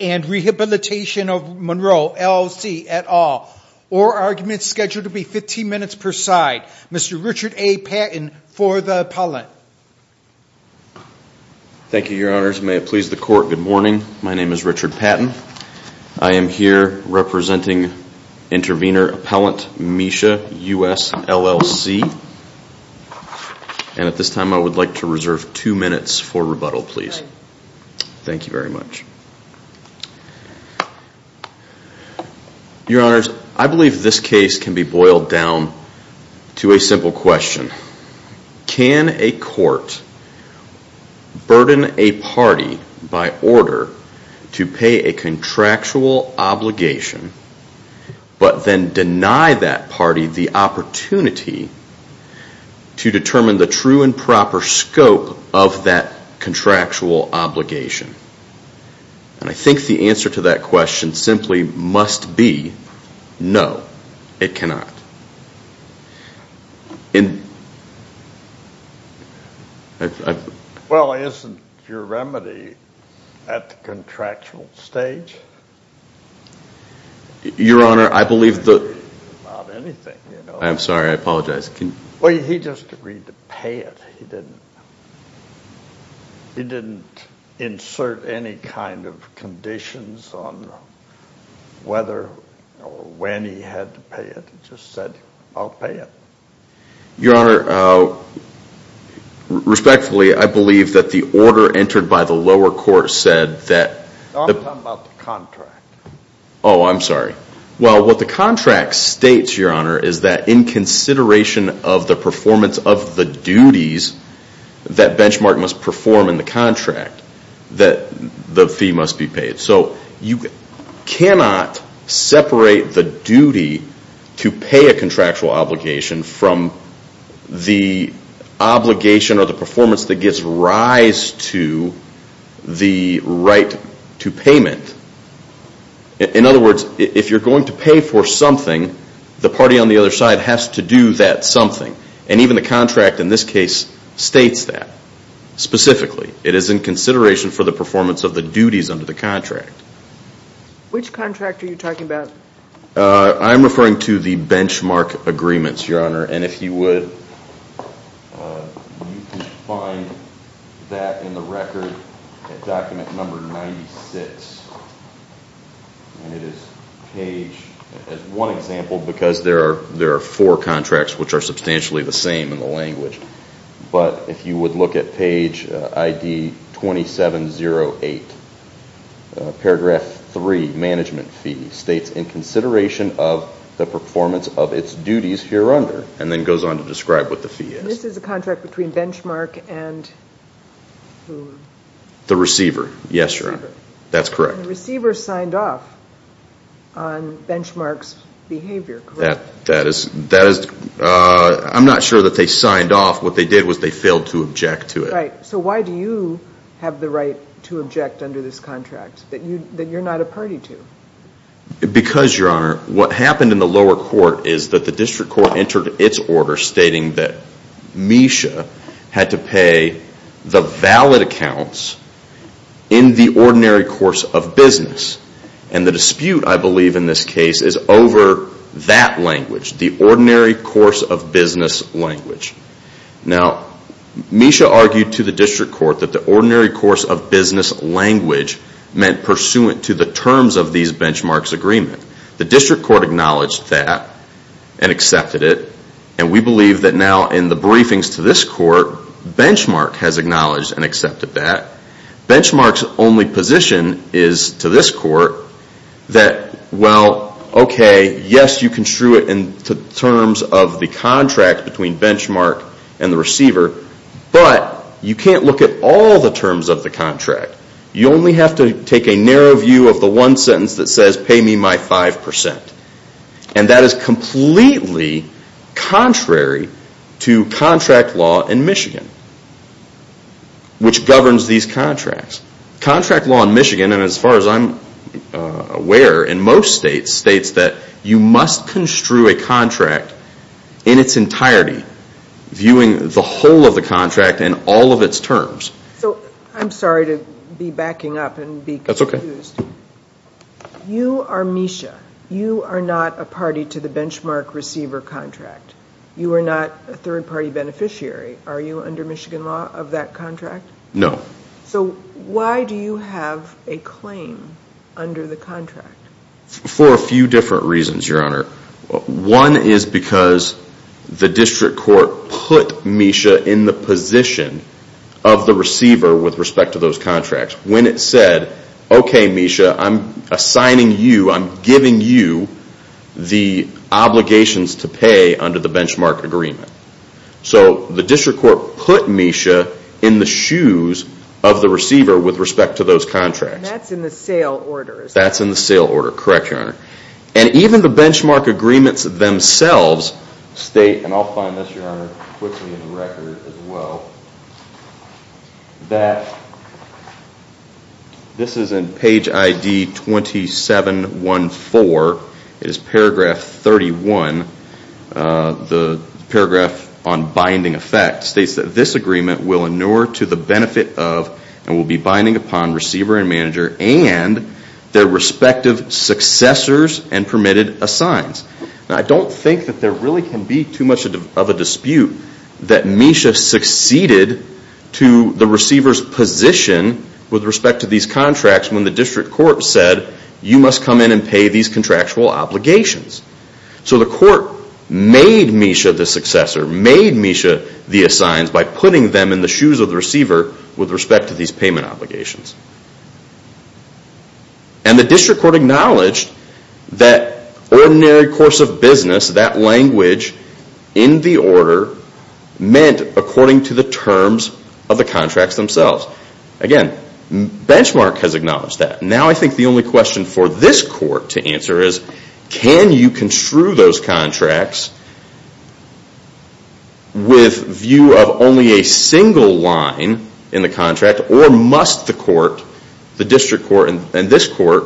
and Rehabilitation of Monroe, LLC, et al., or arguments scheduled to be 15 minutes per side. Mr. Richard A. Patton for the appellant. Thank you, Your Honors. May it please the Court, good morning. My name is Richard Patton. I am here representing the MW Capital Funding Intervenor Appellant, Misha, US, LLC. And at this time I would like to reserve two minutes for rebuttal, please. Thank you very much. Your Honors, I believe this case can be boiled down to a simple question. Can a court burden a party by order to pay a contractual obligation but then deny that party the opportunity to determine the true and proper scope of that contractual obligation? And I think the answer to that question simply must be, no, it cannot. Well, isn't your remedy at the contractual stage? Your Honor, I believe that is not the case. I'm sorry, I apologize. Well, he just agreed to pay it. He didn't insert any kind of conditions on whether or when he had to pay it. He just said, I'll pay it. Your Honor, respectfully, I believe that the order entered by the lower court said that... No, I'm talking about the contract. Oh, I'm sorry. Well, what the contract states, Your Honor, is that in consideration of the performance of the duties that Benchmark must perform in the contract, that the fee must be paid. So you cannot separate the duty to pay a contractual obligation from the obligation or the performance that gives rise to the right to payment that Benchmark must perform. In other words, if you're going to pay for something, the party on the other side has to do that something. And even the contract in this case states that specifically. It is in consideration for the performance of the duties under the contract. Which contract are you talking about? I'm referring to the Benchmark agreements, Your Honor. And if you would, you can find that in the record at document number 96. And it is paged as one example because there are four contracts which are substantially the same in the language. But if you would look at page ID 2708, paragraph three, management fee, states in consideration of the performance of its duties here under. And then goes on to describe what the fee is. This is a contract between Benchmark and the receiver. Yes, Your Honor. That's correct. The receiver signed off on Benchmark's behavior, correct? That is. I'm not sure that they signed off. What they did was they failed to object to it. Right. So why do you have the right to object under this contract that you're not a party to? Because, Your Honor, what happened in the lower court is that the district court entered its order stating that Misha had to pay the valid accounts in the ordinary course of business. And the dispute, I believe, in this case is over that language. The ordinary course of business language. Now, Misha argued to the district court that the ordinary course of business language meant pursuant to the terms of these Benchmark's agreement. The district court acknowledged that and accepted it. And we believe that now in the briefings to this court, Benchmark has acknowledged and accepted that. Benchmark's only position is to this court that, well, okay, yes, you construe it in terms of the contract between Benchmark and the receiver, but you can't look at all the terms of the contract. You only have to take a narrow view of the one sentence that says, pay me my 5%. And that is completely contrary to contract law in Michigan, which governs these contracts. Contract law in Michigan, and as far as I'm aware in most states, states that you must construe a contract in its entirety, viewing the whole of the contract and all of its terms. So, I'm sorry to be backing up and be confused. That's okay. You are Misha. You are not a party to the Benchmark receiver contract. You are not a third party beneficiary. Are you under Michigan law of that contract? No. So, why do you have a claim under the contract? For a few different reasons, Your Honor. One is because the district court put Misha in the position of the receiver with respect to those contracts. When it said, okay Misha, I'm assigning you, I'm giving you the obligations to pay under the Benchmark agreement. So, the district court put Misha in the shoes of the receiver with respect to those contracts. And that's in the sale order. That's in the sale order. Correct, Your Honor. And even the Benchmark agreements themselves state, and I'll find this, Your Honor, quickly in the record as well, that this is in page ID 2714. It is paragraph 31. The paragraph on binding effect states that this agreement will inure to the benefit of and will be binding upon receiver and manager and their respective successors and permitted assigns. Now, I don't think that there really can be too much of a difference in the way that the district court succeeded to the receiver's position with respect to these contracts when the district court said, you must come in and pay these contractual obligations. So, the court made Misha the successor, made Misha the assigns by putting them in the shoes of the receiver with respect to these payment obligations. And the district court acknowledged that ordinary course of action was due to the terms of the contracts themselves. Again, Benchmark has acknowledged that. Now I think the only question for this court to answer is, can you construe those contracts with view of only a single line in the contract or must the court, the district court and this court,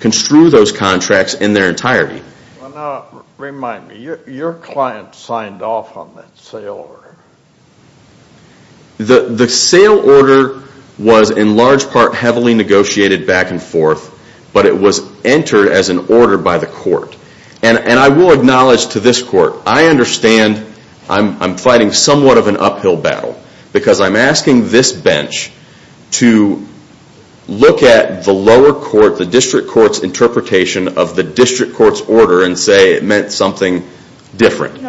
construe those contracts in their entirety? The sale order was in large part heavily negotiated back and forth, but it was entered as an order by the court. And I will acknowledge to this court, I understand I'm fighting somewhat of an uphill battle because I'm asking this bench to look at the lower court, the district court's interpretation of the district court's order and say it meant something different.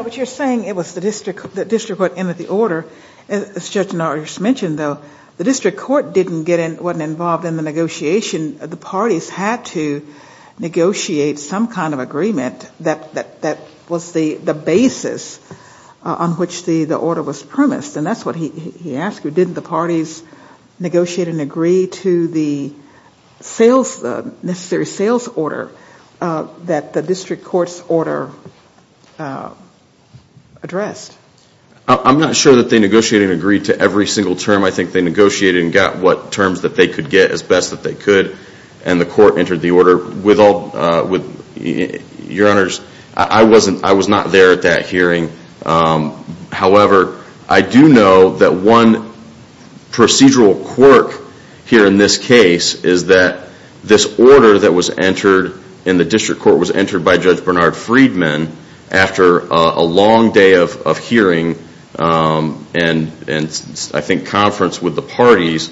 As Judge Norris mentioned, the district court wasn't involved in the negotiation. The parties had to negotiate some kind of agreement that was the basis on which the order was premised. And that's what he asked, didn't the parties negotiate and agree to the necessary sales order that the district court's order addressed? I'm not sure that they negotiated and agreed to every single term. I think they negotiated and got what terms that they could get as best that they could and the court entered the order. Your Honors, I was not there at that hearing. However, I do know that one procedural quirk here in this case is that this order that was entered in the district court was entered by Judge Bernard Friedman after a long day of hearing and I think conference with the parties,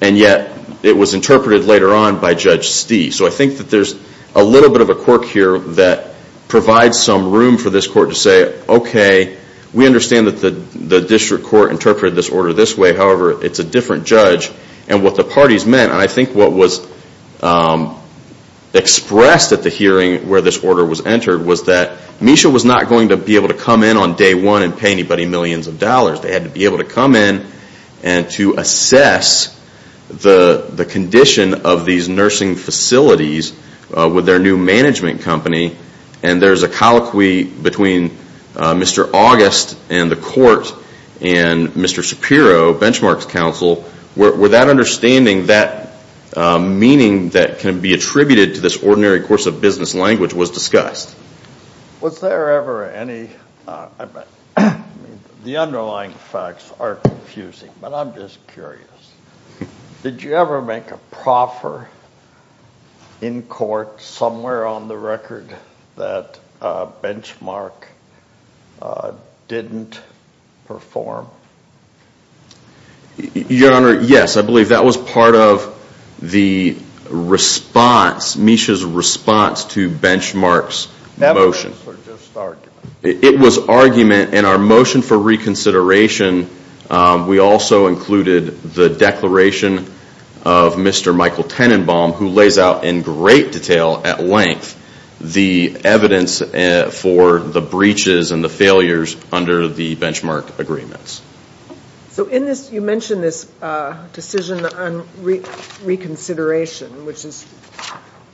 and yet it was interpreted later on by Judge Stee. So I think that there's a little bit of a quirk here that provides some room for this court to say, okay, we understand that the district court interpreted this order this way, however, it's a different judge. And what the parties meant, and I think what was expressed at the hearing where this order was entered, was that they didn't have to pay anybody millions of dollars. They had to be able to come in and to assess the condition of these nursing facilities with their new management company and there's a colloquy between Mr. August and the court and Mr. Shapiro, Benchmark's counsel, where that understanding, that meaning that can be attributed to this ordinary course of business language was discussed. The underlying facts are confusing, but I'm just curious. Did you ever make a proffer in court somewhere on the record that Benchmark didn't perform? Your Honor, yes. I believe that was part of the response, Misha's response to Benchmark's motion. It was argument, and our motion for reconsideration, we also included the declaration of Mr. Michael Tenenbaum, who lays out in great detail at length the evidence for the breaches and the failures under the Benchmark agreements. So in this, you mentioned this decision on reconsideration, which is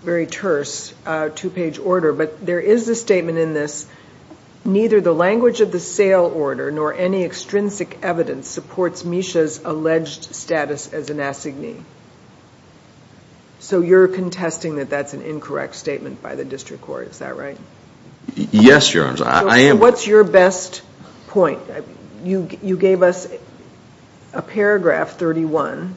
very terse, two-page order, but there is a statement in this, neither the language of the sale order nor any extrinsic evidence supports Misha's alleged status as an assignee. So you're contesting that that's an incorrect statement by the district court, is that right? Yes, Your Honor. So what's your best point? You gave us a paragraph 31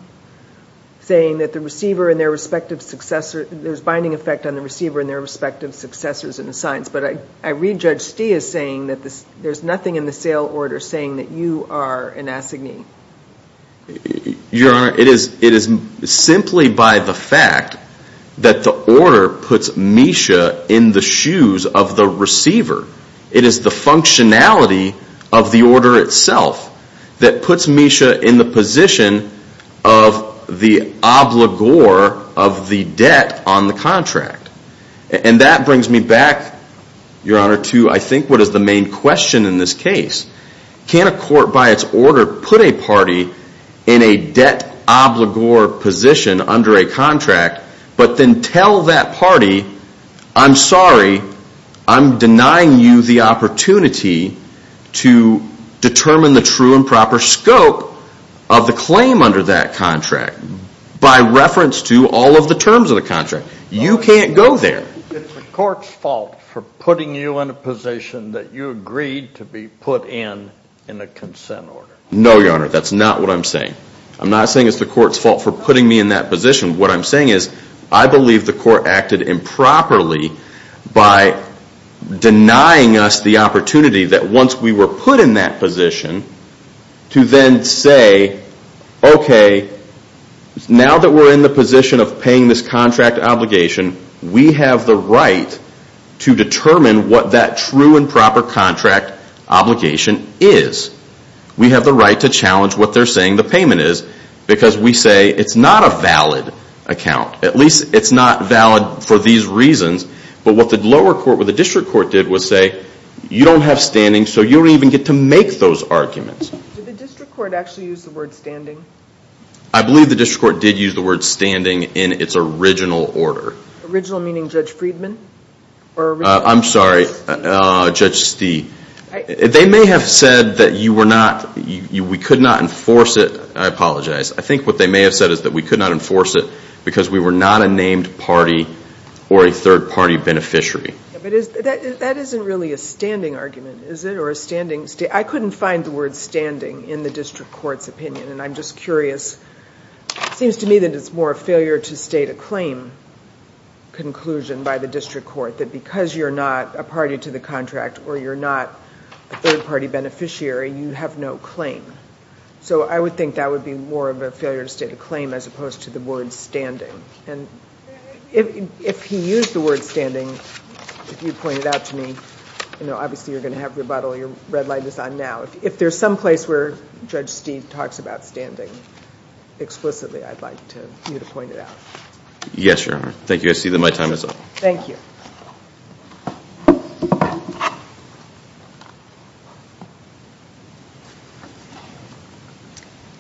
saying that the receiver and their respective successor, there's binding effect on the receiver and their respective successors in the signs, but I read Judge Stee as saying that there's nothing in the sale order saying that you are an assignee. Your Honor, it is simply by the fact that the order puts Misha in the shoes of the receiver. It is the functionality of the order itself that puts Misha in the position of the obligor of the debt on the contract. And that brings me back, Your Honor, to I think what is the main question in this case. Can a court by its order put a party in a debt obligor position under a contract, but then tell that party, I'm sorry, I'm denying you the opportunity to determine the true and proper scope of the claim under that contract by reference to all of the terms of the contract? You can't go there. It's the court's fault for putting you in a position that you agreed to be put in in a consent order. No, Your Honor, that's not what I'm saying. I'm not saying it's the court's fault for putting me in that position. What I'm saying is I believe the court acted improperly by denying us the opportunity that once we were put in that position to then say, okay, now that we're in the position of paying this contract obligation, we have the right to determine what that true and proper contract obligation is. We have the right to challenge what they're saying the payment is because we say it's not a valid account. At least it's not valid for these reasons. But what the lower court, what the district court did was say, you don't have standing so you don't even get to make those arguments. Did the district court actually use the word standing? I believe the district court did use the word standing in its original order. Original meaning Judge Friedman? I'm sorry, Judge Stee. They may have said that we could not enforce it because we were not a named party or a third party beneficiary. That isn't really a standing argument, is it? I couldn't find the word standing in the district court's opinion and I'm just curious. It seems to me that it's more a failure to state a claim conclusion by the district court that because you're not a party to the contract or you're not a third party beneficiary, you have no claim. So I would think that would be more of a failure to state a claim as opposed to the word standing. If you pointed out to me, obviously you're going to have your bottle, your red light is on now. If there's some place where Judge Stee talks about standing explicitly, I'd like you to point it out. Yes, Your Honor. Thank you. I see that my time is up. Good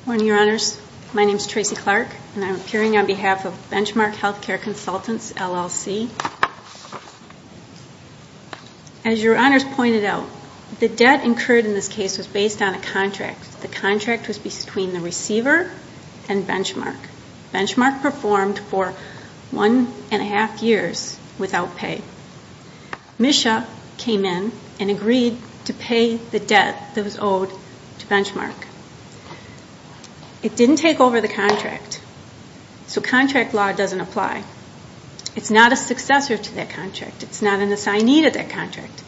morning, Your Honors. My name is Tracy Clark and I'm appearing on behalf of Benchmark Healthcare Consultants, LLC. As Your Honors pointed out, the debt incurred in this case was based on a contract. The contract was between the receiver and Benchmark. Benchmark performed for one and a half years without pay. Misha came in and agreed to pay the debt that was owed to Benchmark. It didn't take over the contract, so contract law doesn't apply. It's not a successor to that contract. It's not an assignee to that contract.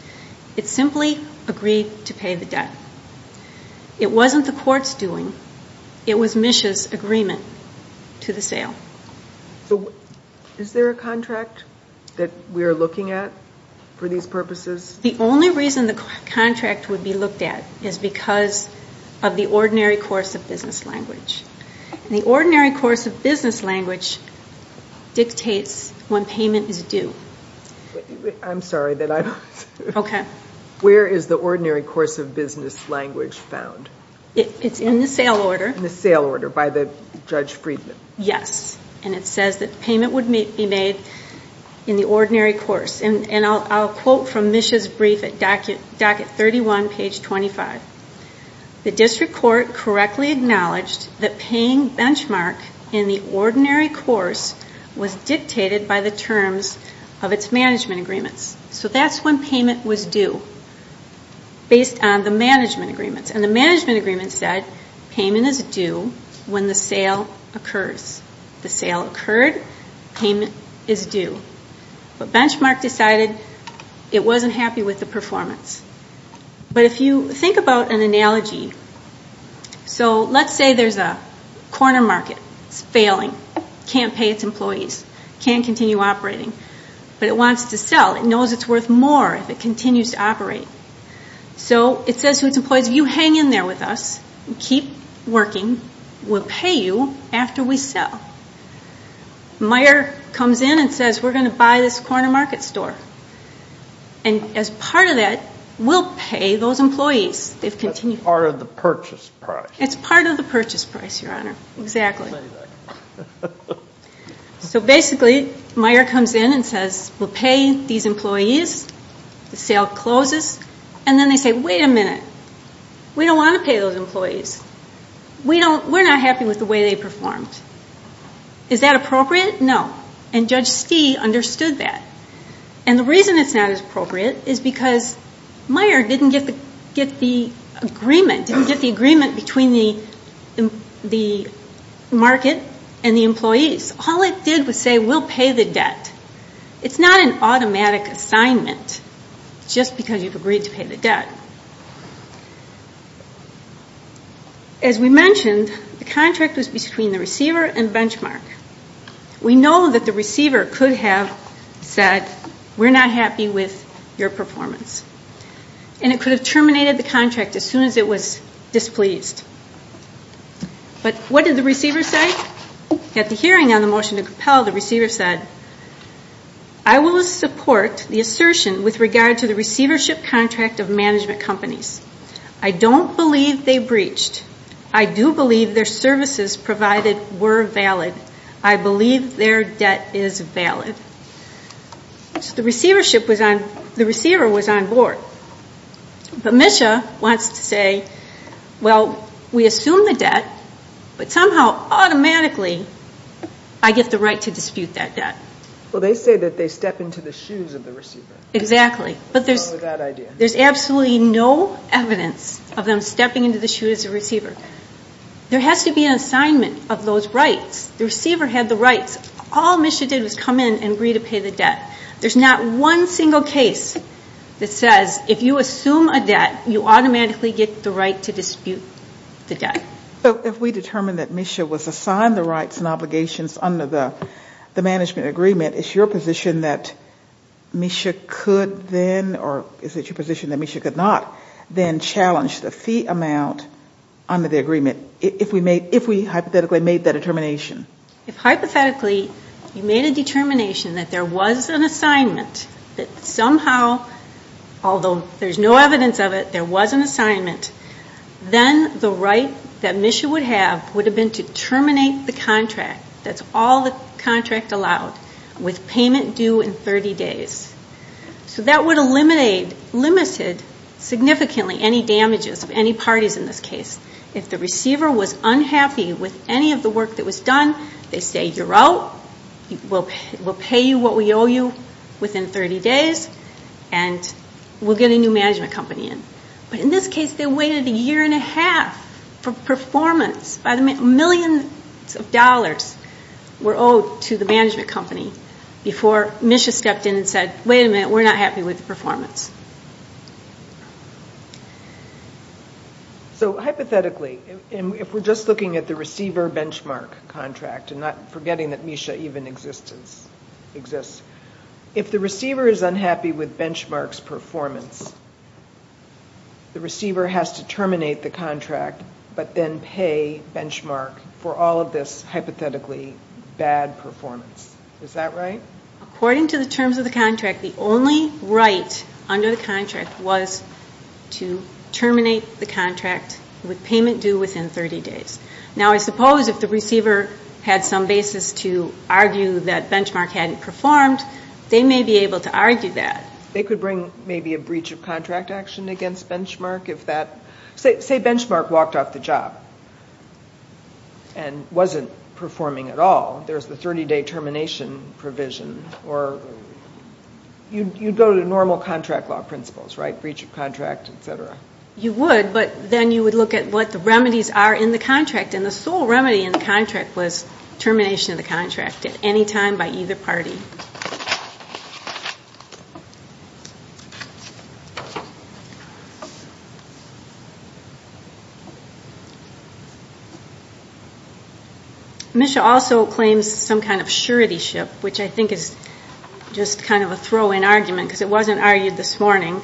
It simply agreed to pay the debt. It wasn't the court's doing. It was Misha's agreement to the sale. Is there a contract that we're looking at for these purposes? The only reason the contract would be looked at is because of the ordinary course of business language. The ordinary course of business language dictates when payment is due. I'm sorry. Where is the ordinary course of business language found? It's in the sale order. It says that payment would be made in the ordinary course. I'll quote from Misha's brief at docket 31, page 25. The district court correctly acknowledged that paying Benchmark in the ordinary course was dictated by the terms of its management agreements. That's when payment was due, based on the management agreements. The management agreements said payment is due when the sale occurs. The sale occurred. Payment is due. But Benchmark decided it wasn't happy with the performance. Let's say there's a corner market. It's failing. It can't pay its employees. It can't continue operating. But it wants to sell. It knows it's worth more if it continues to operate. It says to its employees, you hang in there with us and keep working. We'll pay you after we sell. Meyer comes in and says, we're going to buy this corner market store. As part of that, we'll pay those employees. It's part of the purchase price, Your Honor. Basically, Meyer comes in and says, we'll pay these employees. The sale closes, and then they say, wait a minute. We don't want to pay those employees. We're not happy with the way they performed. Is that appropriate? No. And Judge Stee understood that. And the reason it's not as appropriate is because Meyer didn't get the agreement between the market and the employees. All it did was say, we'll pay the debt. It's not an automatic assignment just because you've agreed to pay the debt. As we mentioned, the contract was between the receiver and benchmark. We know that the receiver could have said, we're not happy with your performance. And it could have terminated the contract as soon as it was displeased. But what did the receiver say? At the hearing on the motion to compel, the receiver said, I will support the assertion with regard to the receivership contract of management companies. I don't believe they breached. I do believe their services provided were valid. I believe their debt is valid. So the receiver was on board. But Misha wants to say, well, we assume the debt, but somehow automatically I get the right to dispute that debt. Well, they say that they step into the shoes of the receiver. There's absolutely no evidence of them stepping into the shoes of the receiver. There has to be an assignment of those rights. The receiver had the rights. All Misha did was come in and agree to pay the debt. There's not one single case that says if you assume a debt, you automatically get the right to dispute the debt. So if we determine that Misha was assigned the rights and obligations under the management agreement, is it your position that Misha could then, or is it your position that Misha could not then challenge the fee amount under the agreement, if we hypothetically made that determination? If hypothetically you made a determination that there was an assignment that somehow, although there's no evidence of it, there was an assignment, then the right that Misha would have would have been to terminate the contract, that's all the contract allowed, with payment due in 30 days. So that would have limited significantly any damages of any parties in this case. If the receiver was unhappy with any of the work that was done, they say, you're out, we'll pay you what we owe you within 30 days, and we'll get a new management company in. But in this case, they waited a year and a half for performance. Millions of dollars were owed to the management company before Misha stepped in and said, wait a minute, we're not happy with the performance. So hypothetically, if we're just looking at the receiver benchmark contract and not forgetting that Misha even exists, if the receiver is unhappy with Benchmark's performance, the receiver has to terminate the contract, but then pay Benchmark for all of this hypothetically bad performance. Is that right? According to the terms of the contract, the only right under the contract was to terminate the contract with payment due within 30 days. Now I suppose if the receiver had some basis to argue that Benchmark hadn't performed, they may be able to argue that. They could bring maybe a breach of contract action against Benchmark if that... Say Benchmark walked off the job and wasn't performing at all. There's the 30-day termination provision. You'd go to normal contract law principles, right? Breach of contract, et cetera. You would, but then you would look at what the remedies are in the contract, and the sole remedy in the contract was termination of the contract at any time by either party. Misha also claims some kind of suretyship, which I think is just kind of a throw-in argument, because it wasn't argued this morning.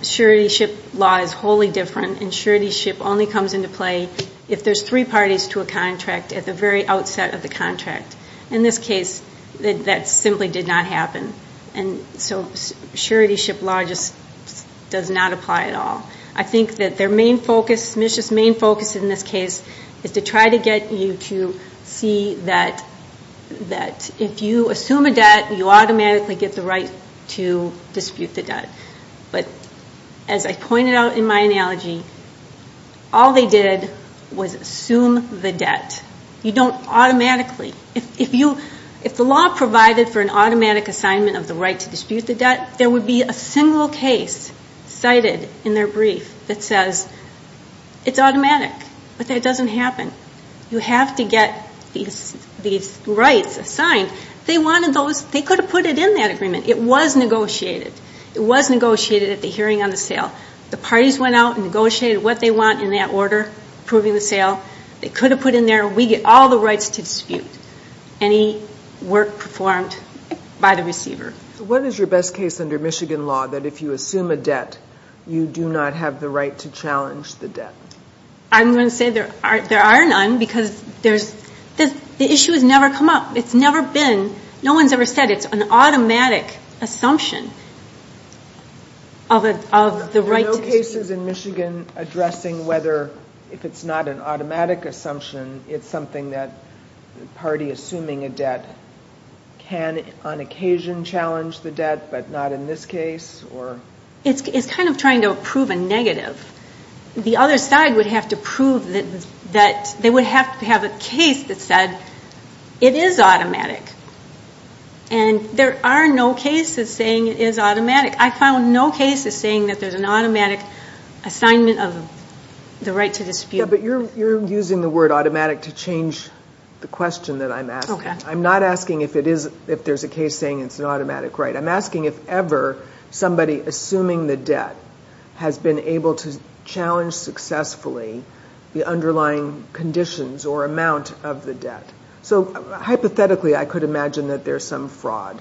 Suretyship law is wholly different, and suretyship only comes into play if there's three parties to a contract at the very outset of the contract. In this case, that simply did not happen. Suretyship law just does not apply at all. Misha's main focus in this case is to try to get you to see that if you assume a debt, you automatically get the right to dispute the debt. But as I pointed out in my analogy, all they did was assume the debt. You don't automatically. If the law provided for an automatic assignment of the right to dispute the debt, there would be a single case cited in their brief that says it's automatic, but that doesn't happen. You have to get these rights assigned. They could have put it in that agreement. It was negotiated. It was negotiated at the hearing on the sale. The parties went out and negotiated what they want in that order approving the sale. They could have put in there, we get all the rights to dispute any work performed by the receiver. What is your best case under Michigan law that if you assume a debt, you do not have the right to challenge the debt? I'm going to say there are none, because the issue has never come up. It's never been, no one's ever said it's an automatic assumption of the right to dispute. Are there no cases in Michigan addressing whether if it's not an automatic assumption, it's something that the party assuming a debt can on occasion challenge the debt, but not in this case? It's kind of trying to prove a negative. The other side would have to prove that they would have to have a case that said it is automatic. There are no cases saying it is automatic. You're using the word automatic to change the question that I'm asking. I'm not asking if there's a case saying it's an automatic right. I'm asking if ever somebody assuming the debt has been able to challenge successfully the underlying conditions or amount of the debt. So hypothetically, I could imagine that there's some fraud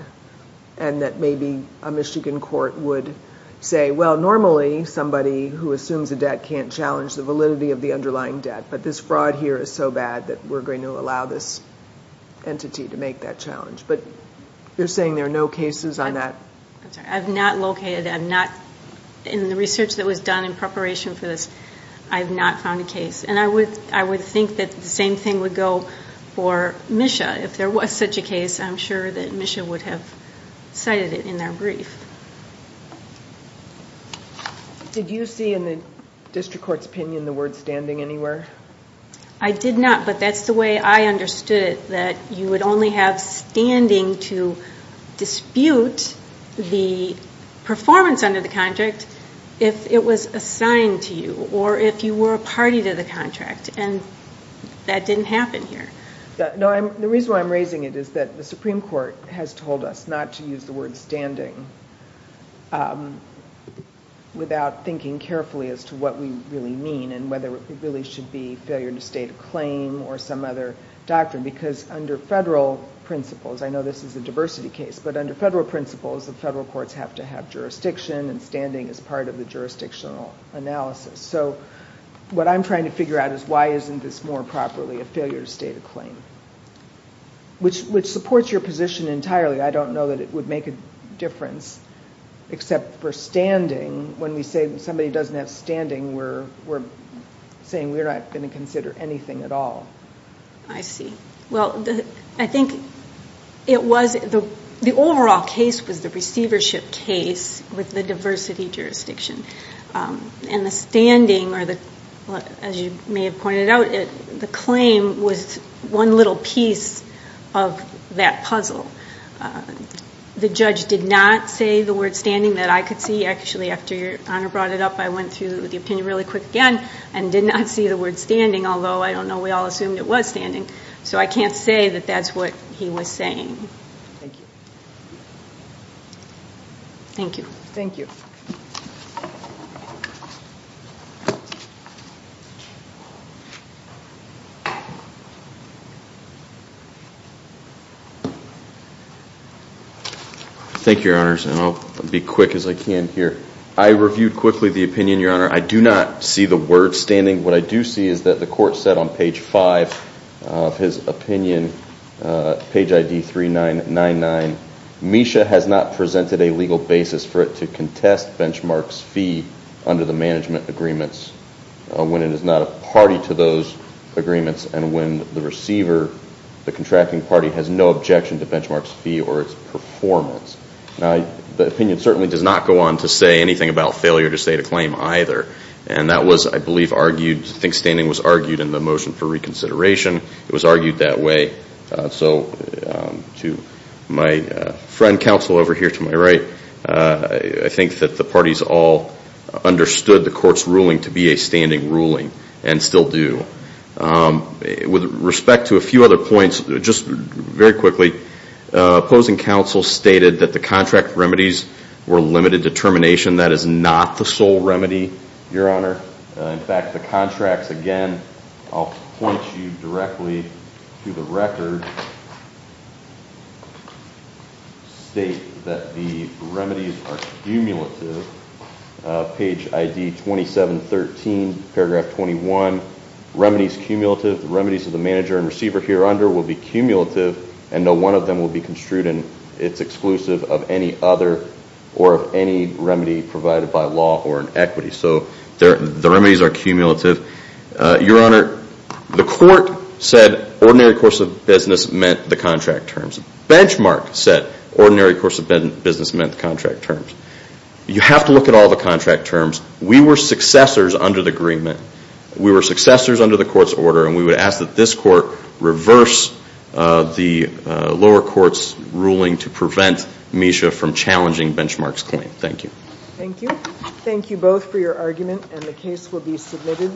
and that maybe a Michigan court would say, well, normally somebody who assumes a debt can't challenge the validity of the underlying debt, but this fraud here is so bad that we're going to allow this entity to make that challenge. But you're saying there are no cases on that? I'm sorry. I'm not located. In the research that was done in preparation for this, I have not found a case. And I would think that the same thing would go for MSHA. If there was such a case, I'm sure that MSHA would have cited it in their brief. Did you see in the district court's opinion the word standing anywhere? I did not, but that's the way I understood it, that you would only have standing to dispute the performance under the contract if it was assigned to you, or if you were a party to the contract. And that didn't happen here. The reason why I'm raising it is that the Supreme Court has told us not to use the word standing without thinking carefully as to what we really mean and whether it really should be failure to state a claim or some other doctrine. Because under federal principles, I know this is a diversity case, but under federal principles the federal courts have to have jurisdiction and standing as part of the jurisdictional analysis. So what I'm trying to figure out is why isn't this more properly a failure to state a claim, which supports your position entirely. I don't know that it would make a difference. Except for standing, when we say somebody doesn't have standing, we're saying we're not going to consider anything at all. I think the overall case was the receivership case with the diversity jurisdiction. And the standing, as you may have pointed out, the claim was one little piece of that puzzle. The judge did not say the word standing that I could see. Actually, after your Honor brought it up, I went through the opinion really quick again and did not see the word standing, although I don't know, we all assumed it was standing. So I can't say that that's what he was saying. Thank you. Thank you, Your Honors, and I'll be quick as I can here. I reviewed quickly the opinion, Your Honor. I do not see the word standing. What I do see is that the court said on page 5 of his opinion, page ID 3999, Misha has not presented a legal basis for it to contest Benchmark's fee under the management agreements when it is not a party to those agreements and when the receiver, the contracting party, has no objection to Benchmark's fee or its performance. The opinion certainly does not go on to say anything about failure to state a claim either. And that was, I believe, argued, I think standing was argued in the motion for reconsideration. It was argued that way. So to my friend counsel over here to my right, I think that the parties all understood the court's ruling to be a standing ruling and still do. With respect to a few other points, just very quickly, opposing counsel stated that the contract remedies were limited to termination. That is not the sole remedy, Your Honor. In fact, the contracts, again, I'll point you directly to the record, state that the remedies are cumulative. Page ID 2713, paragraph 21, remedies cumulative. The remedies of the manager and receiver here under will be cumulative and no one of them will be construed as exclusive of any other or of any remedy provided by law or an equity. So the remedies are cumulative. Your Honor, the court said ordinary course of business meant the contract terms. Benchmark said ordinary course of business meant the contract terms. You have to look at all the contract terms. We were successors under the agreement. We were successors under the court's order and we would ask that this court reverse the lower court's ruling to prevent Misha from challenging Benchmark's claim. Thank you. Thank you. Thank you both for your argument and the case will be submitted.